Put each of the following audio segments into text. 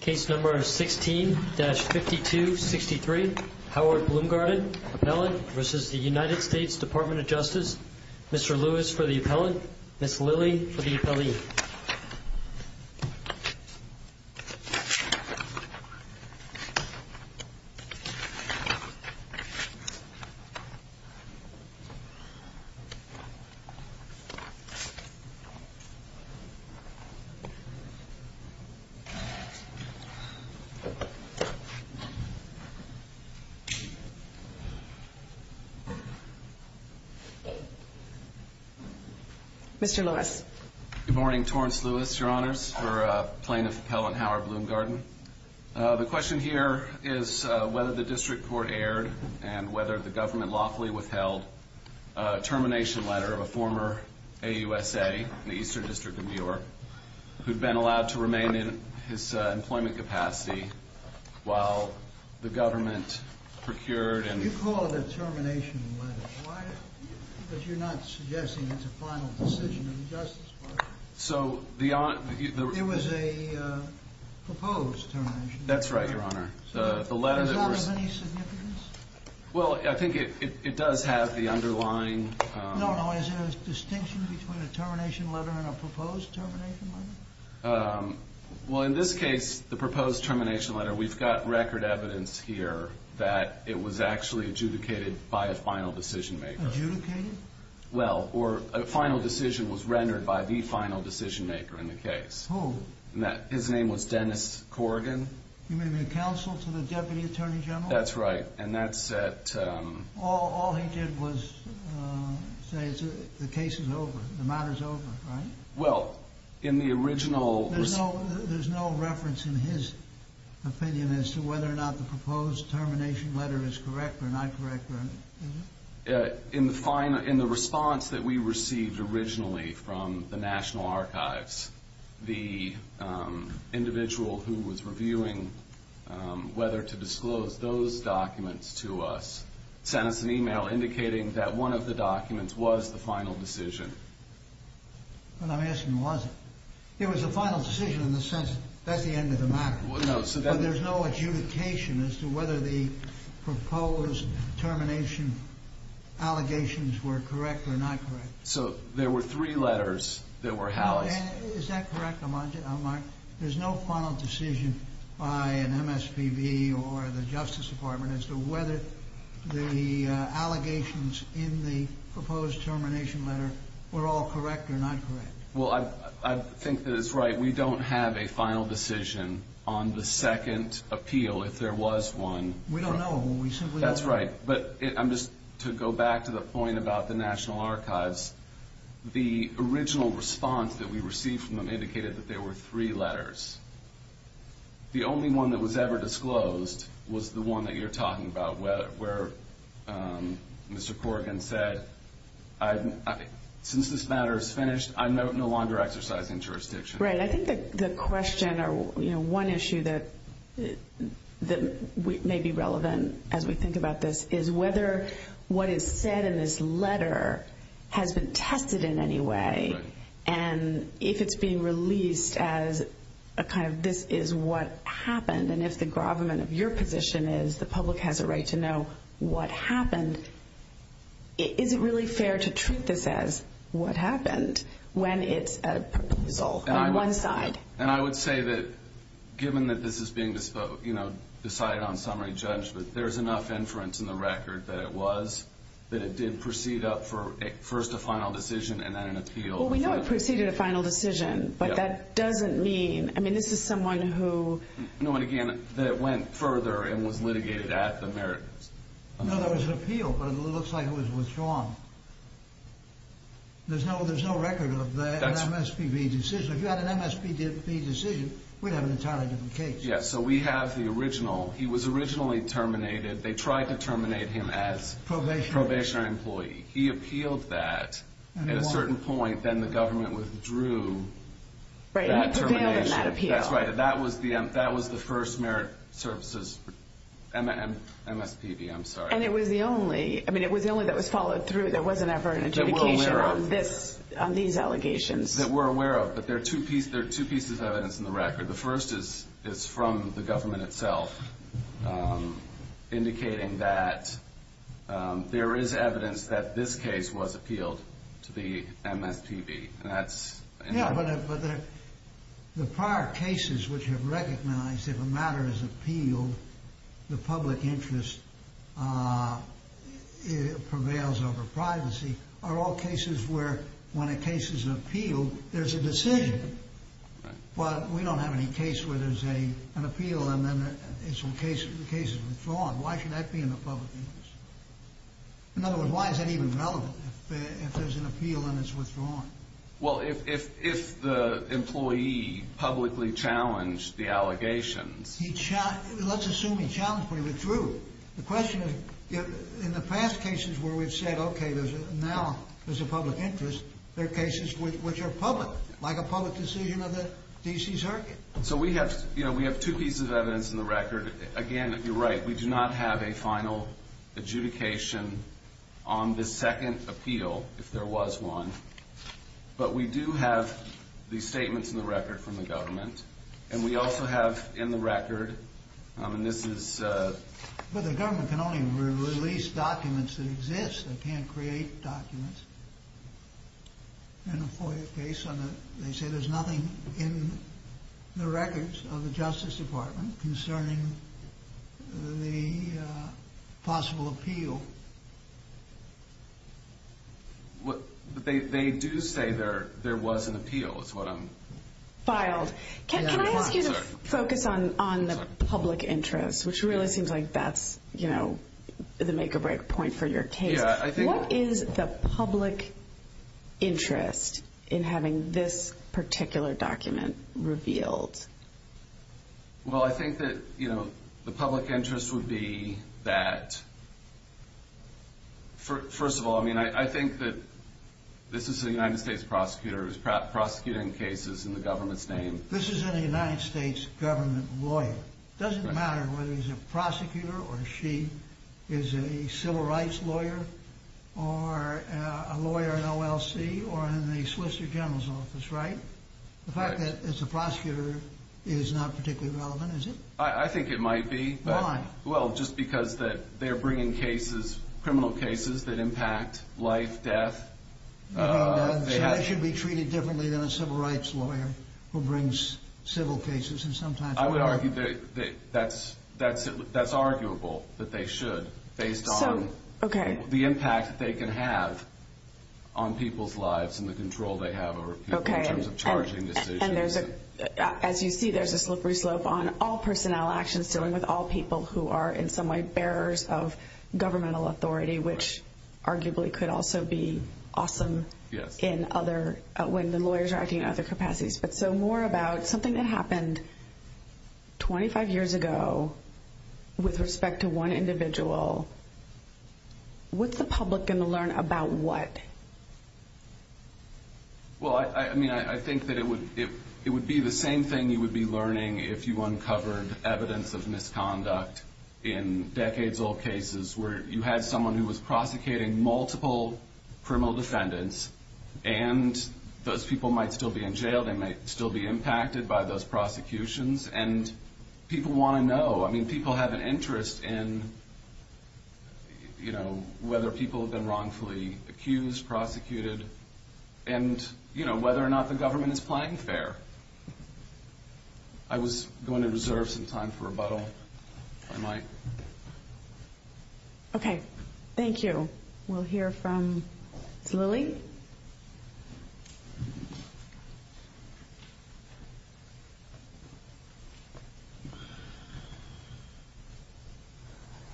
16-5263 Howard Bloomgarden v. United States Department of Justice Mr. Lewis for the appellant, Ms. Lilly for the appellee. Mr. Lewis. Good morning, Torrance Lewis, Your Honors, for Plaintiff Appellant Howard Bloomgarden. The question here is whether the district court erred and whether the government lawfully withheld a termination letter of a former AUSA in the Eastern District of New York who'd been allowed to remain in his employment capacity while the government procured and You call it a termination letter, but you're not suggesting it's a final decision of the Justice Department. It was a proposed termination letter. That's right, Your Honor. Does that have any significance? Well, I think it does have the underlying... No, no. Is there a distinction between a termination letter and a proposed termination letter? Well, in this case, the proposed termination letter, we've got record evidence here that it was actually adjudicated by a final decision maker. Adjudicated? Well, or a final decision was rendered by the final decision maker in the case. Who? His name was Dennis Corrigan. You mean the counsel to the Deputy Attorney General? That's right, and that's at... All he did was say the case is over, the matter's over, right? Well, in the original... There's no reference in his opinion as to whether or not the proposed termination letter is correct or not correct, is there? In the response that we received originally from the National Archives, the individual who was reviewing whether to disclose those documents to us sent us an email indicating that one of the documents was the final decision. But I'm asking, was it? It was a final decision in the sense that that's the end of the matter. Well, no, so that... But there's no adjudication as to whether the proposed termination allegations were correct or not correct. So there were three letters that were housed. Is that correct, Mark? There's no final decision by an MSPB or the Justice Department as to whether the allegations in the proposed termination letter were all correct or not correct. Well, I think that it's right. We don't have a final decision on the second appeal if there was one. We don't know. That's right, but I'm just... To go back to the point about the National Archives, the original response that we received from them indicated that there were three letters. The only one that was ever disclosed was the one that you're talking about where Mr. Corrigan said, since this matter is finished, I'm no longer exercising jurisdiction. Right. I think the question or one issue that may be relevant as we think about this is whether what is said in this letter has been tested in any way and if it's being released as a kind of this is what happened and if the gravamen of your position is the public has a right to know what happened, is it really fair to treat this as what happened when it's a proposal on one side? And I would say that given that this is being decided on summary judgment, there's enough inference in the record that it was, first a final decision and then an appeal. Well, we know it preceded a final decision, but that doesn't mean... I mean, this is someone who... No, and again, that it went further and was litigated at the merits. No, there was an appeal, but it looks like it was withdrawn. There's no record of an MSPB decision. If you had an MSPB decision, we'd have an entirely different case. Yes, so we have the original. He was originally terminated. They tried to terminate him as probationary employee. He appealed that. At a certain point, then the government withdrew that termination. That's right. That was the first merit services MSPB, I'm sorry. And it was the only... I mean, it was the only that was followed through. There wasn't ever an adjudication on these allegations. That we're aware of, but there are two pieces of evidence in the record. The first is from the government itself, indicating that there is evidence that this case was appealed to the MSPB. And that's... Yeah, but the prior cases which have recognized if a matter is appealed, the public interest prevails over privacy, are all cases where when a case is appealed, there's a decision. Well, we don't have any case where there's an appeal, and then the case is withdrawn. Why should that be in the public interest? In other words, why is that even relevant if there's an appeal and it's withdrawn? Well, if the employee publicly challenged the allegations... Let's assume he challenged, but he withdrew. The question is, in the past cases where we've said, okay, now there's a public interest, there are cases which are public, like a public decision of the D.C. Circuit. So we have two pieces of evidence in the record. Again, you're right. We do not have a final adjudication on this second appeal, if there was one. But we do have these statements in the record from the government, and we also have in the record, and this is... But the government can only release documents that exist. They can't create documents in a FOIA case. They say there's nothing in the records of the Justice Department concerning the possible appeal. They do say there was an appeal is what I'm... Filed. Can I ask you to focus on the public interest, which really seems like that's the make-or-break point for your case. Yeah, I think... What is the public interest in having this particular document revealed? Well, I think that the public interest would be that... First of all, I think that this is a United States prosecutor who's prosecuting cases in the government's name. This is a United States government lawyer. It doesn't matter whether he's a prosecutor or she is a civil rights lawyer or a lawyer in OLC or in the Swiss General's Office, right? The fact that it's a prosecutor is not particularly relevant, is it? I think it might be. Why? Well, just because they're bringing cases, criminal cases, that impact life, death. They should be treated differently than a civil rights lawyer who brings civil cases and sometimes... I would argue that that's arguable, that they should, based on the impact they can have on people's lives and the control they have over people in terms of charging decisions. As you see, there's a slippery slope on all personnel actions dealing with all people who are in some way bearers of governmental authority, which arguably could also be awesome when the lawyers are acting in other capacities. But so more about something that happened 25 years ago with respect to one individual. What's the public going to learn about what? Well, I mean, I think that it would be the same thing you would be learning if you uncovered evidence of misconduct in decades-old cases where you had someone who was prosecuting multiple criminal defendants and those people might still be in jail, they might still be impacted by those prosecutions, and people want to know. I mean, people have an interest in whether people have been wrongfully accused, prosecuted, and whether or not the government is playing fair. I was going to reserve some time for rebuttal, if I might. Okay, thank you. We'll hear from Janie Lilly.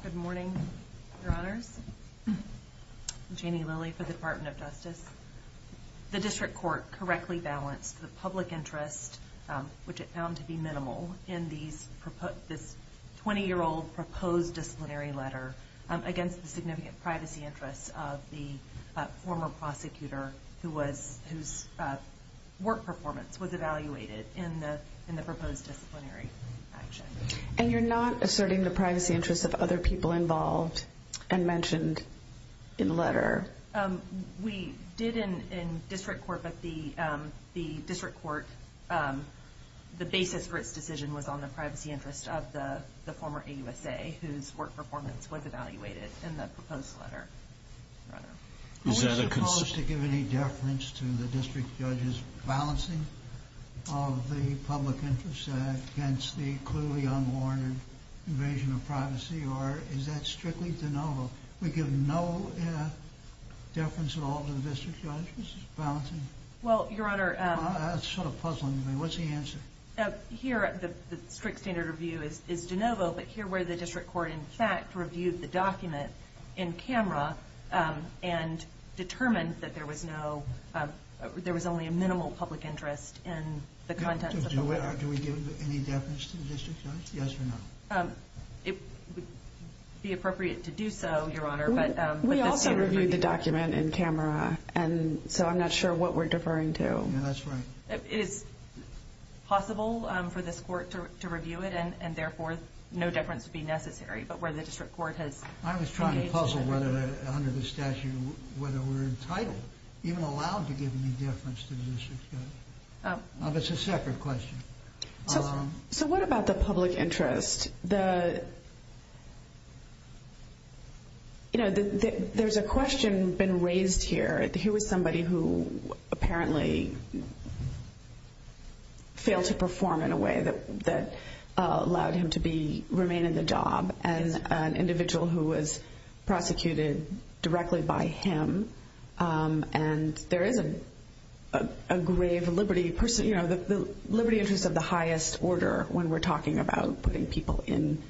Good morning, Your Honors. I'm Janie Lilly for the Department of Justice. The district court correctly balanced the public interest, which it found to be minimal, in this 20-year-old proposed disciplinary letter against the significant privacy interests of the former prosecutor whose work performance was evaluated in the proposed disciplinary action. And you're not asserting the privacy interests of other people involved and mentioned in the letter? We did in district court, but the district court, the basis for its decision was on the privacy interests of the former AUSA, whose work performance was evaluated in the proposed letter. Are we supposed to give any deference to the district judge's balancing of the public interest against the clearly unwarranted invasion of privacy, or is that strictly de novo? We give no deference at all to the district judge's balancing? Well, Your Honor. That's sort of puzzling me. Here, the strict standard of view is de novo, but here where the district court in fact reviewed the document in camera and determined that there was only a minimal public interest in the contents of the letter. Do we give any deference to the district judge, yes or no? It would be appropriate to do so, Your Honor. We also reviewed the document in camera, and so I'm not sure what we're deferring to. That's right. It is possible for this court to review it, and therefore no deference would be necessary, but where the district court has engaged in it. I was trying to puzzle under the statute whether we're entitled, even allowed to give any deference to the district judge. Oh. It's a separate question. So what about the public interest? There's a question been raised here. Here was somebody who apparently failed to perform in a way that allowed him to remain in the job, and an individual who was prosecuted directly by him, and there is a grave liberty interest of the highest order when we're talking about putting people in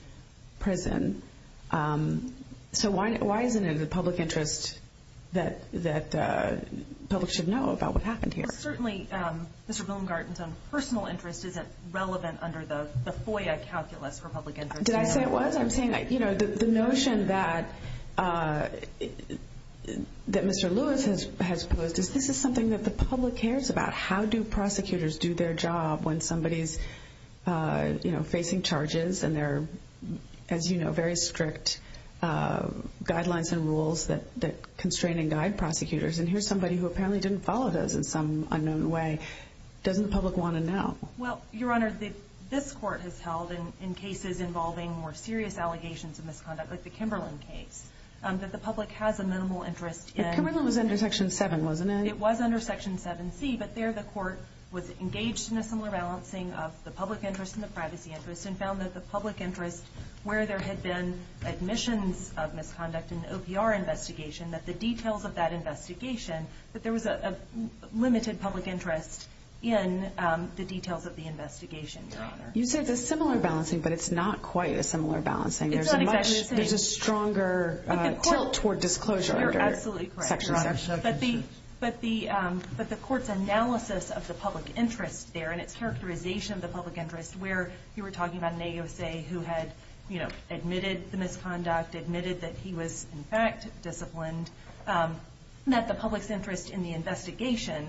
prison. So why isn't it the public interest that the public should know about what happened here? Certainly Mr. Billengarten's own personal interest isn't relevant under the FOIA calculus for public interest. Did I say it was? I'm saying the notion that Mr. Lewis has posed is this is something that the public cares about. How do prosecutors do their job when somebody is facing charges and there are, as you know, very strict guidelines and rules that constrain and guide prosecutors, and here's somebody who apparently didn't follow those in some unknown way. Doesn't the public want to know? Well, Your Honor, this court has held, in cases involving more serious allegations of misconduct like the Kimberlin case, that the public has a minimal interest in. Kimberlin was under Section 7, wasn't it? It was under Section 7C, but there the court was engaged in a similar balancing of the public interest and the privacy interest and found that the public interest, where there had been admissions of misconduct in the OPR investigation, that the details of that investigation, that there was a limited public interest in the details of the investigation, Your Honor. You said it's a similar balancing, but it's not quite a similar balancing. It's not exactly the same. There's a stronger tilt toward disclosure under Section 7. But the court's analysis of the public interest there and its characterization of the public interest, where you were talking about an AUSA who had admitted the misconduct, admitted that he was, in fact, disciplined, that the public's interest in the investigation,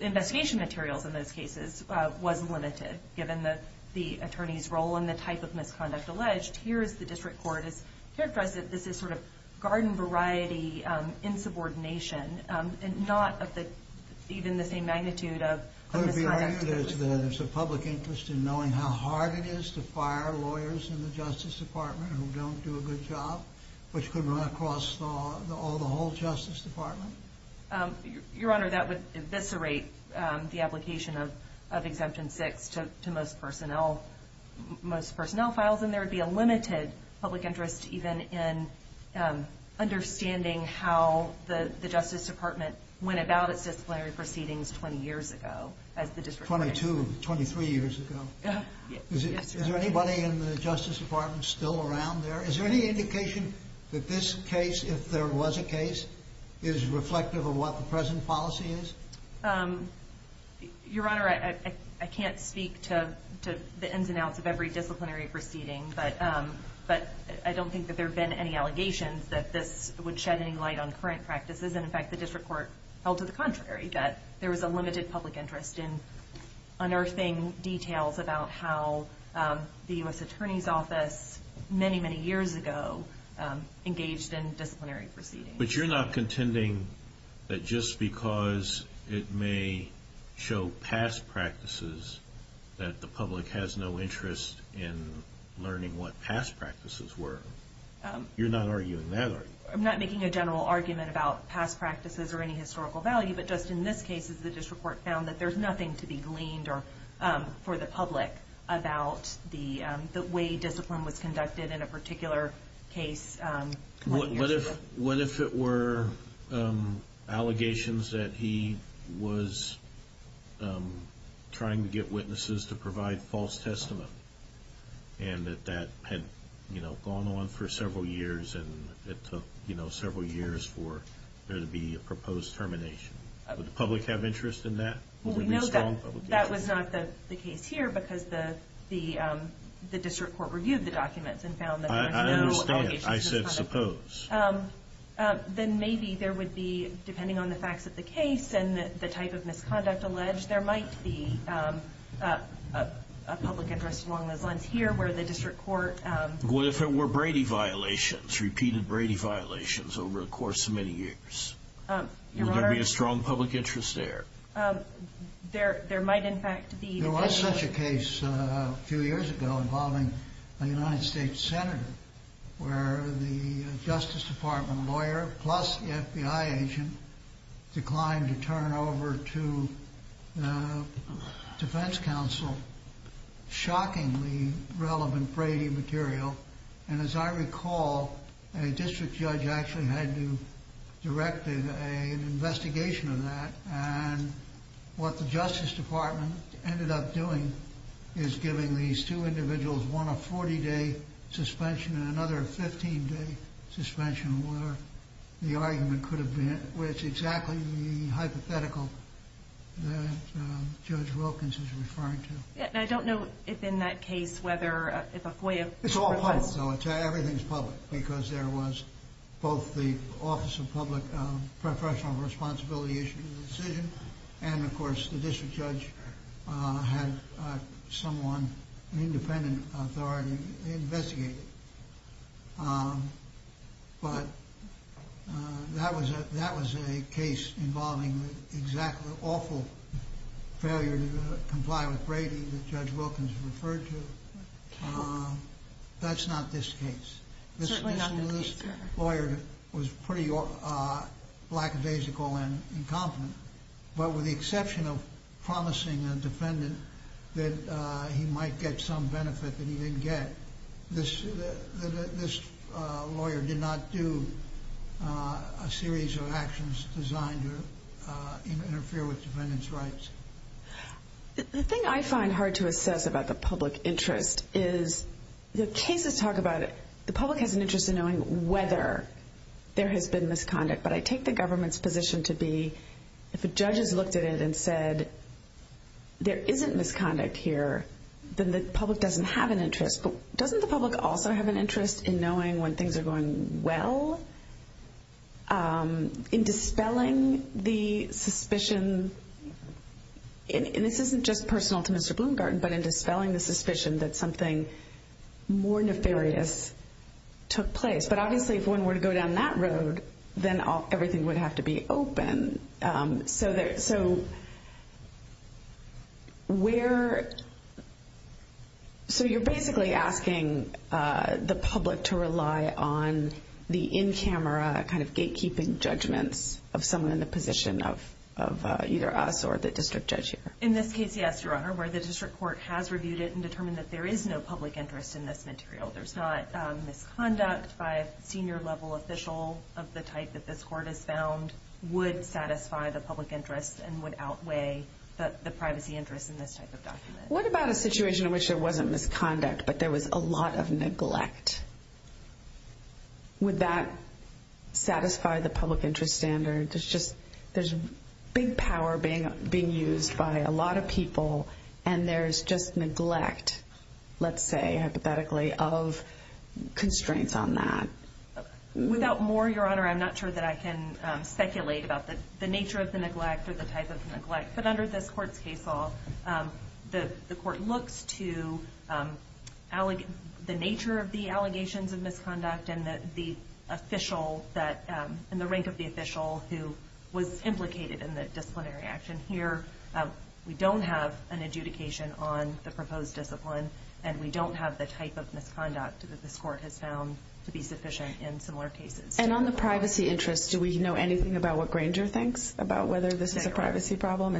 investigation materials in those cases, was limited, given the attorney's role and the type of misconduct alleged. Here's the district court has characterized that this is sort of garden variety insubordination, not of even the same magnitude of misconduct. Could it be argued that there's a public interest in knowing how hard it is to fire lawyers in the Justice Department who don't do a good job, which could run across the whole Justice Department? Your Honor, that would eviscerate the application of Exemption 6 to most personnel files, and there would be a limited public interest even in understanding how the Justice Department went about its disciplinary proceedings 20 years ago as the district attorney. Twenty-two, 23 years ago. Yes, Your Honor. Is there anybody in the Justice Department still around there? Is there any indication that this case, if there was a case, is reflective of what the present policy is? Your Honor, I can't speak to the ins and outs of every disciplinary proceeding, but I don't think that there have been any allegations that this would shed any light on current practices, and, in fact, the district court held to the contrary, that there was a limited public interest in unearthing details about how the U.S. Attorney's Office many, many years ago engaged in disciplinary proceedings. But you're not contending that just because it may show past practices that the public has no interest in learning what past practices were? You're not arguing that, are you? I'm not making a general argument about past practices or any historical value, but just in this case, the district court found that there's nothing to be gleaned for the public about the way discipline was conducted in a particular case 20 years ago. What if it were allegations that he was trying to get witnesses to provide false testament and that that had gone on for several years, and it took several years for there to be a proposed termination? Would the public have interest in that? No, that was not the case here because the district court reviewed the documents and found that there was no allegations of misconduct. I understand. I said suppose. Then maybe there would be, depending on the facts of the case and the type of misconduct alleged, there might be a public interest along those lines here where the district court- What if it were Brady violations, repeated Brady violations over the course of many years? Your Honor- Would there be a strong public interest there? There might, in fact, be- There was such a case a few years ago involving a United States senator where the Justice Department lawyer, plus the FBI agent, declined to turn over to the Defense Council shockingly relevant Brady material, and as I recall, a district judge actually had to direct an investigation of that, and what the Justice Department ended up doing is giving these two individuals one a 40-day suspension and another a 15-day suspension, where the argument could have been- where it's exactly the hypothetical that Judge Wilkins is referring to. I don't know if in that case whether- It's all public. Everything's public because there was both the Office of Public Professional Responsibility and, of course, the district judge had someone, an independent authority, investigate it. But that was a case involving exactly the awful failure to comply with Brady that Judge Wilkins referred to. That's not this case. Certainly not this case, Your Honor. This lawyer was pretty lackadaisical and incompetent, but with the exception of promising a defendant that he might get some benefit that he didn't get, this lawyer did not do a series of actions designed to interfere with defendants' rights. The thing I find hard to assess about the public interest is the cases talk about it- there has been misconduct, but I take the government's position to be if a judge has looked at it and said there isn't misconduct here, then the public doesn't have an interest. But doesn't the public also have an interest in knowing when things are going well? In dispelling the suspicion- and this isn't just personal to Mr. Bloomgarten- but in dispelling the suspicion that something more nefarious took place. But obviously if one were to go down that road, then everything would have to be open. So you're basically asking the public to rely on the in-camera, kind of gatekeeping judgments of someone in the position of either us or the district judge here. In this case, yes, Your Honor, where the district court has reviewed it and determined that there is no public interest in this material. There's not misconduct by a senior-level official of the type that this court has found would satisfy the public interest and would outweigh the privacy interest in this type of document. What about a situation in which there wasn't misconduct, but there was a lot of neglect? Would that satisfy the public interest standard? There's big power being used by a lot of people, and there's just neglect, let's say hypothetically, of constraints on that. Without more, Your Honor, I'm not sure that I can speculate about the nature of the neglect or the type of neglect. But under this court's case law, the court looks to the nature of the allegations of misconduct and the rank of the official who was implicated in the disciplinary action. Here, we don't have an adjudication on the proposed discipline, and we don't have the type of misconduct that this court has found to be sufficient in similar cases. On the privacy interest, do we know anything about what Granger thinks about whether this is a privacy problem?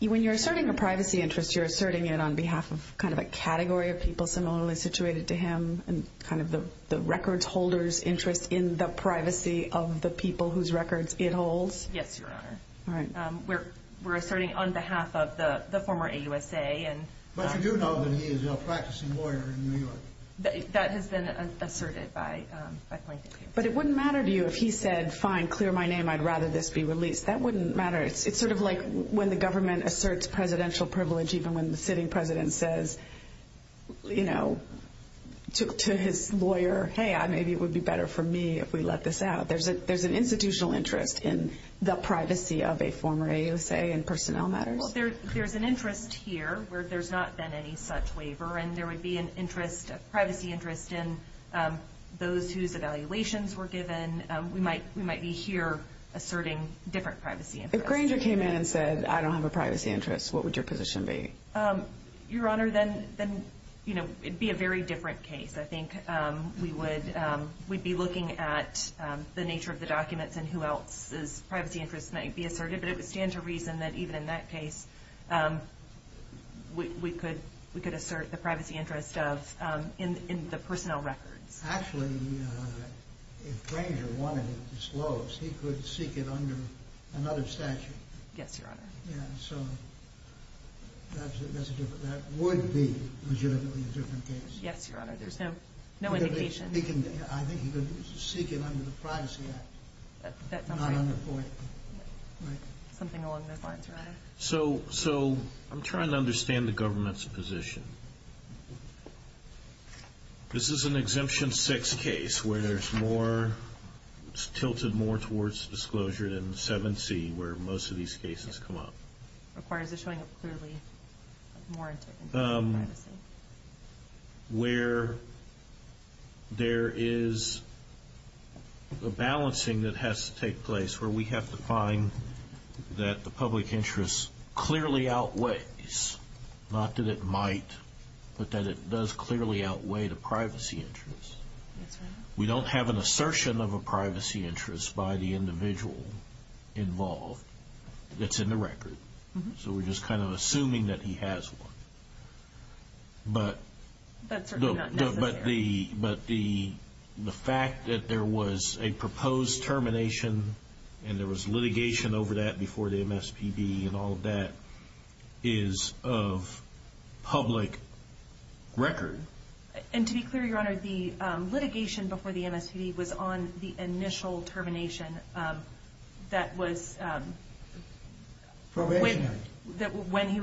When you're asserting a privacy interest, you're asserting it on behalf of a category of people similarly situated to him and the records holder's interest in the privacy of the people whose records it holds? Yes, Your Honor. All right. We're asserting on behalf of the former AUSA. But you do know that he is a practicing lawyer in New York? That has been asserted by Point of View. But it wouldn't matter to you if he said, fine, clear my name, I'd rather this be released. That wouldn't matter. It's sort of like when the government asserts presidential privilege, even when the sitting president says to his lawyer, hey, maybe it would be better for me if we let this out. There's an institutional interest in the privacy of a former AUSA in personnel matters? There's an interest here where there's not been any such waiver, and there would be a privacy interest in those whose evaluations were given. We might be here asserting different privacy interests. If Granger came in and said, I don't have a privacy interest, what would your position be? Your Honor, then it would be a very different case. I think we'd be looking at the nature of the documents and who else's privacy interests might be asserted. But it would stand to reason that even in that case, we could assert the privacy interest in the personnel records. Actually, if Granger wanted it disclosed, he could seek it under another statute. Yes, Your Honor. So that would be legitimately a different case. Yes, Your Honor. There's no indication. I think he could seek it under the Privacy Act. That's not right. Something along those lines, Your Honor. So I'm trying to understand the government's position. This is an Exemption 6 case where it's tilted more towards disclosure than 7C, where most of these cases come up. Or is it showing up clearly more into privacy? Where there is a balancing that has to take place where we have to find that the public interest clearly outweighs, not that it might, but that it does clearly outweigh the privacy interest. Yes, Your Honor. We don't have an assertion of a privacy interest by the individual involved that's in the record. So we're just kind of assuming that he has one. But the fact that there was a proposed termination and there was litigation over that before the MSPB and all of that is of public record. And to be clear, Your Honor, the litigation before the MSPB was on the initial termination that was... Probationary. When he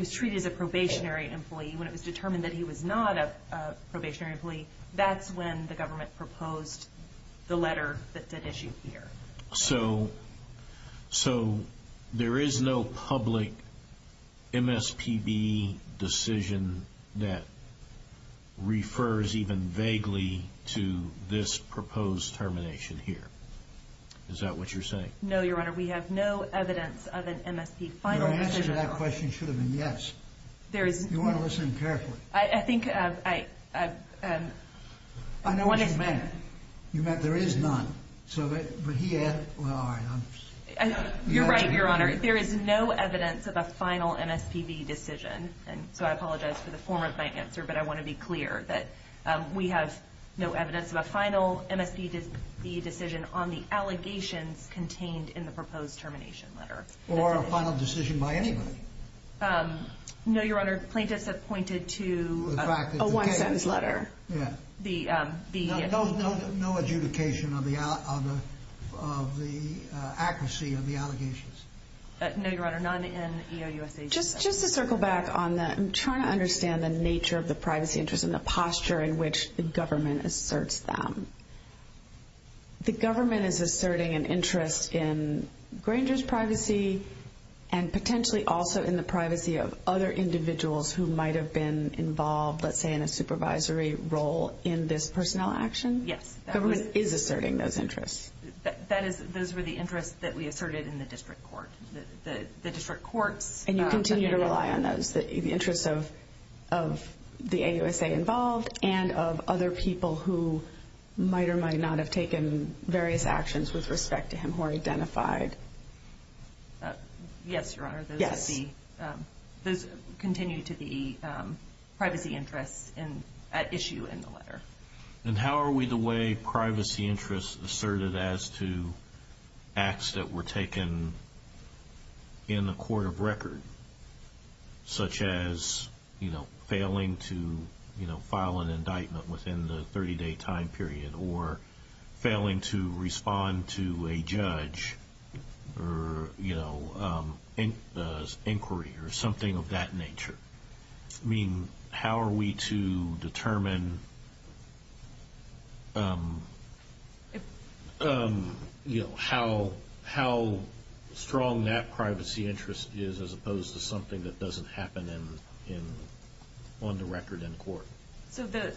was treated as a probationary employee, when it was determined that he was not a probationary employee, that's when the government proposed the letter that it issued here. So there is no public MSPB decision that refers even vaguely to this proposed termination here. Is that what you're saying? No, Your Honor. We have no evidence of an MSPB final decision. Your answer to that question should have been yes. You want to listen carefully. I think I... I know what you meant. You meant there is none. But he added... You're right, Your Honor. There is no evidence of a final MSPB decision. So I apologize for the form of my answer, but I want to be clear that we have no evidence of a final MSPB decision on the allegations contained in the proposed termination letter. Or a final decision by anybody. No, Your Honor. Plaintiffs have pointed to a one-cents letter. No adjudication of the accuracy of the allegations. No, Your Honor. None in EOUSA. Just to circle back on that, I'm trying to understand the nature of the privacy interest and the posture in which the government asserts them. The government is asserting an interest in Granger's privacy and potentially also in the privacy of other individuals who might have been involved, let's say, in a supervisory role in this personnel action? Yes. The government is asserting those interests. Those were the interests that we asserted in the district court. The district courts... And you continue to rely on those, the interests of the AUSA involved and of other people who might or might not have taken various actions with respect to him or identified. Yes, Your Honor. Yes. Those continue to be privacy interests at issue in the letter. And how are we the way privacy interests asserted as to acts that were taken in the court of record, such as failing to file an indictment within the 30-day time period or failing to respond to a judge's inquiry or something of that nature? I mean, how are we to determine how strong that privacy interest is as opposed to something that doesn't happen on the record in court? So the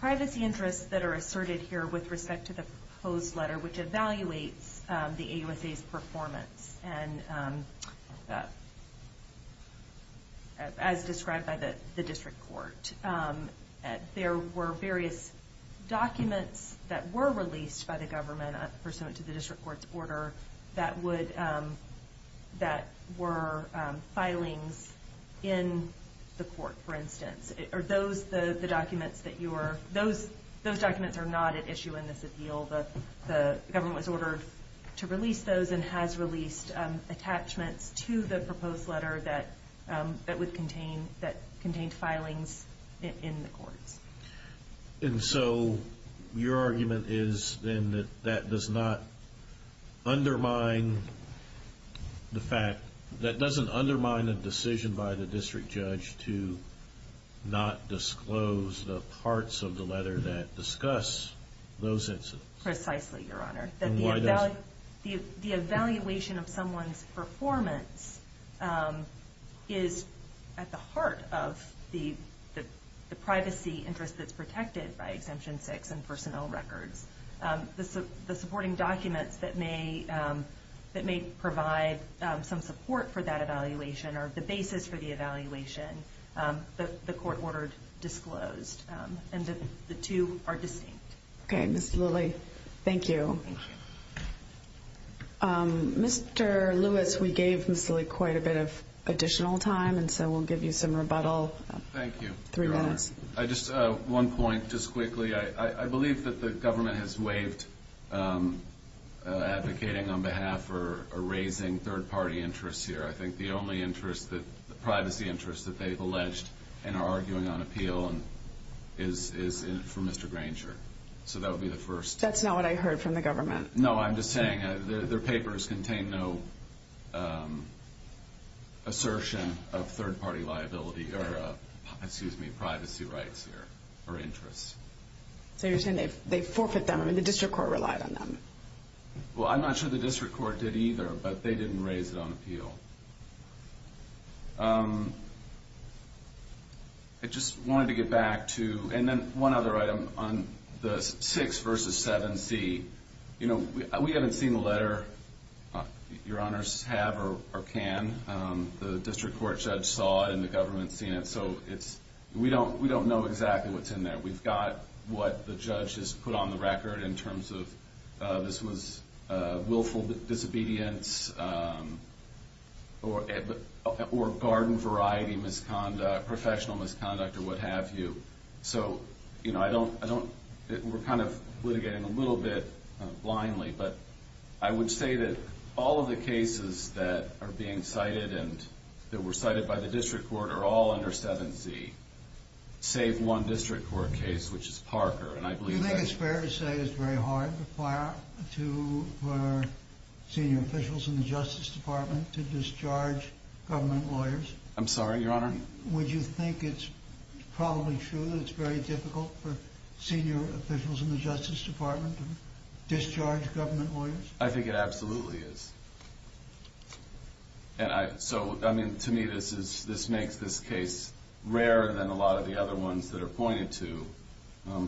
privacy interests that are asserted here with respect to the proposed letter, which evaluates the AUSA's performance as described by the district court, there were various documents that were released by the government pursuant to the district court's order that were filings in the court, for instance. Those documents are not at issue in this appeal. The government was ordered to release those and has released attachments to the proposed letter that contained filings in the courts. And so your argument is then that that does not undermine the fact, not disclose the parts of the letter that discuss those incidents? Precisely, Your Honor. And why does it? The evaluation of someone's performance is at the heart of the privacy interest that's protected by Exemption 6 and personnel records. The supporting documents that may provide some support for that evaluation or the basis for the evaluation, the court ordered disclosed. And the two are distinct. Okay, Ms. Lilley, thank you. Thank you. Mr. Lewis, we gave Ms. Lilley quite a bit of additional time, and so we'll give you some rebuttal. Thank you, Your Honor. Three minutes. Just one point, just quickly. I believe that the government has waived advocating on behalf or raising third-party interests here. I think the only privacy interest that they've alleged and are arguing on appeal is for Mr. Granger. So that would be the first. That's not what I heard from the government. No, I'm just saying their papers contain no assertion of third-party liability or privacy rights here or interests. So you're saying they forfeit them and the district court relied on them? Well, I'm not sure the district court did either, but they didn't raise it on appeal. I just wanted to get back to, and then one other item, on the 6 v. 7c. You know, we haven't seen the letter. Your Honors have or can. The district court judge saw it and the government's seen it, so we don't know exactly what's in there. We've got what the judge has put on the record in terms of this was willful disobedience or garden variety misconduct, professional misconduct, or what have you. So, you know, we're kind of litigating a little bit blindly, but I would say that all of the cases that are being cited and that were cited by the district court are all under 7c, save one district court case, which is Parker. Do you think it's fair to say it's very hard for senior officials in the Justice Department to discharge government lawyers? I'm sorry, Your Honor? Would you think it's probably true that it's very difficult for senior officials in the Justice Department to discharge government lawyers? I think it absolutely is. And so, I mean, to me this makes this case rarer than a lot of the other ones that are pointed to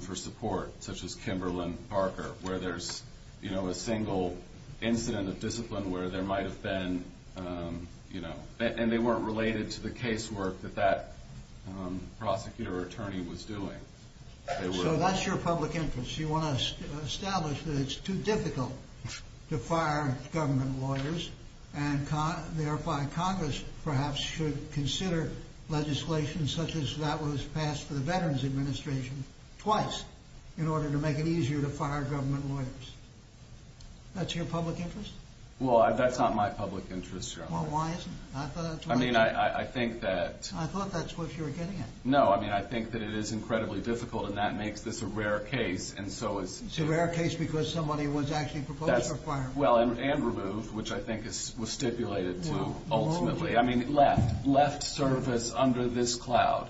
for support, such as Kimberlin Parker, where there's, you know, a single incident of discipline where there might have been, you know, and they weren't related to the casework that that prosecutor or attorney was doing. So that's your public interest. You want to establish that it's too difficult to fire government lawyers, and thereby Congress perhaps should consider legislation such as that was passed for the Veterans Administration twice in order to make it easier to fire government lawyers. That's your public interest? Well, that's not my public interest, Your Honor. Well, why isn't it? I mean, I think that... I thought that's what you were getting at. No, I mean, I think that it is incredibly difficult, and that makes this a rare case, and so it's... It's a rare case because somebody was actually proposed to fire... Well, and removed, which I think was stipulated to ultimately. I mean, left, left service under this cloud.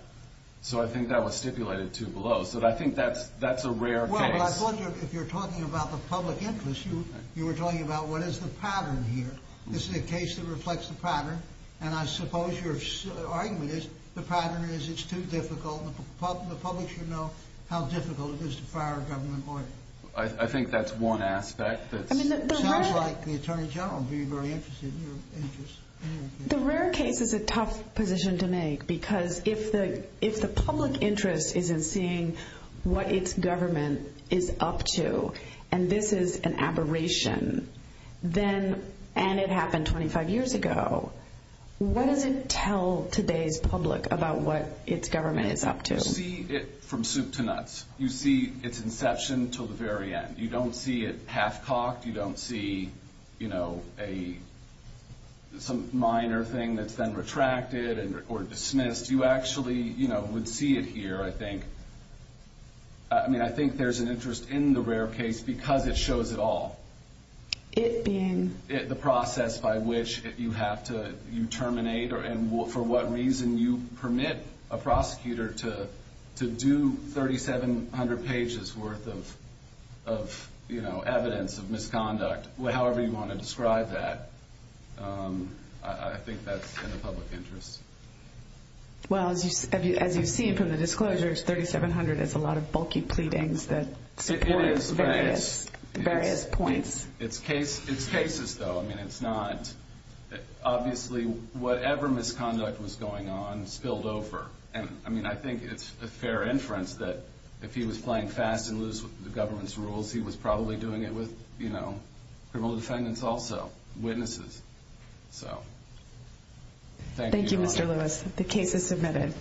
So I think that was stipulated to below. So I think that's a rare case. Well, I thought if you're talking about the public interest, you were talking about what is the pattern here. This is a case that reflects the pattern, and I suppose your argument is the pattern is it's too difficult. The public should know how difficult it is to fire a government lawyer. I think that's one aspect. It sounds like the Attorney General would be very interested in your interest. The rare case is a tough position to make because if the public interest is in seeing what its government is up to, and this is an aberration, and it happened 25 years ago, what does it tell today's public about what its government is up to? You see it from soup to nuts. You see its inception until the very end. You don't see it half-cocked. You don't see some minor thing that's been retracted or dismissed. You actually would see it here, I think. I think there's an interest in the rare case because it shows it all. It being? The process by which you have to terminate and for what reason you permit a prosecutor to do 3,700 pages worth of evidence of misconduct, however you want to describe that. I think that's in the public interest. As you've seen from the disclosures, 3,700 is a lot of bulky pleadings that support various points. It's cases, though. Obviously, whatever misconduct was going on spilled over. I think it's a fair inference that if he was playing fast and loose with the government's rules, he was probably doing it with criminal defendants also, witnesses. Thank you, Mr. Lewis. The case is submitted.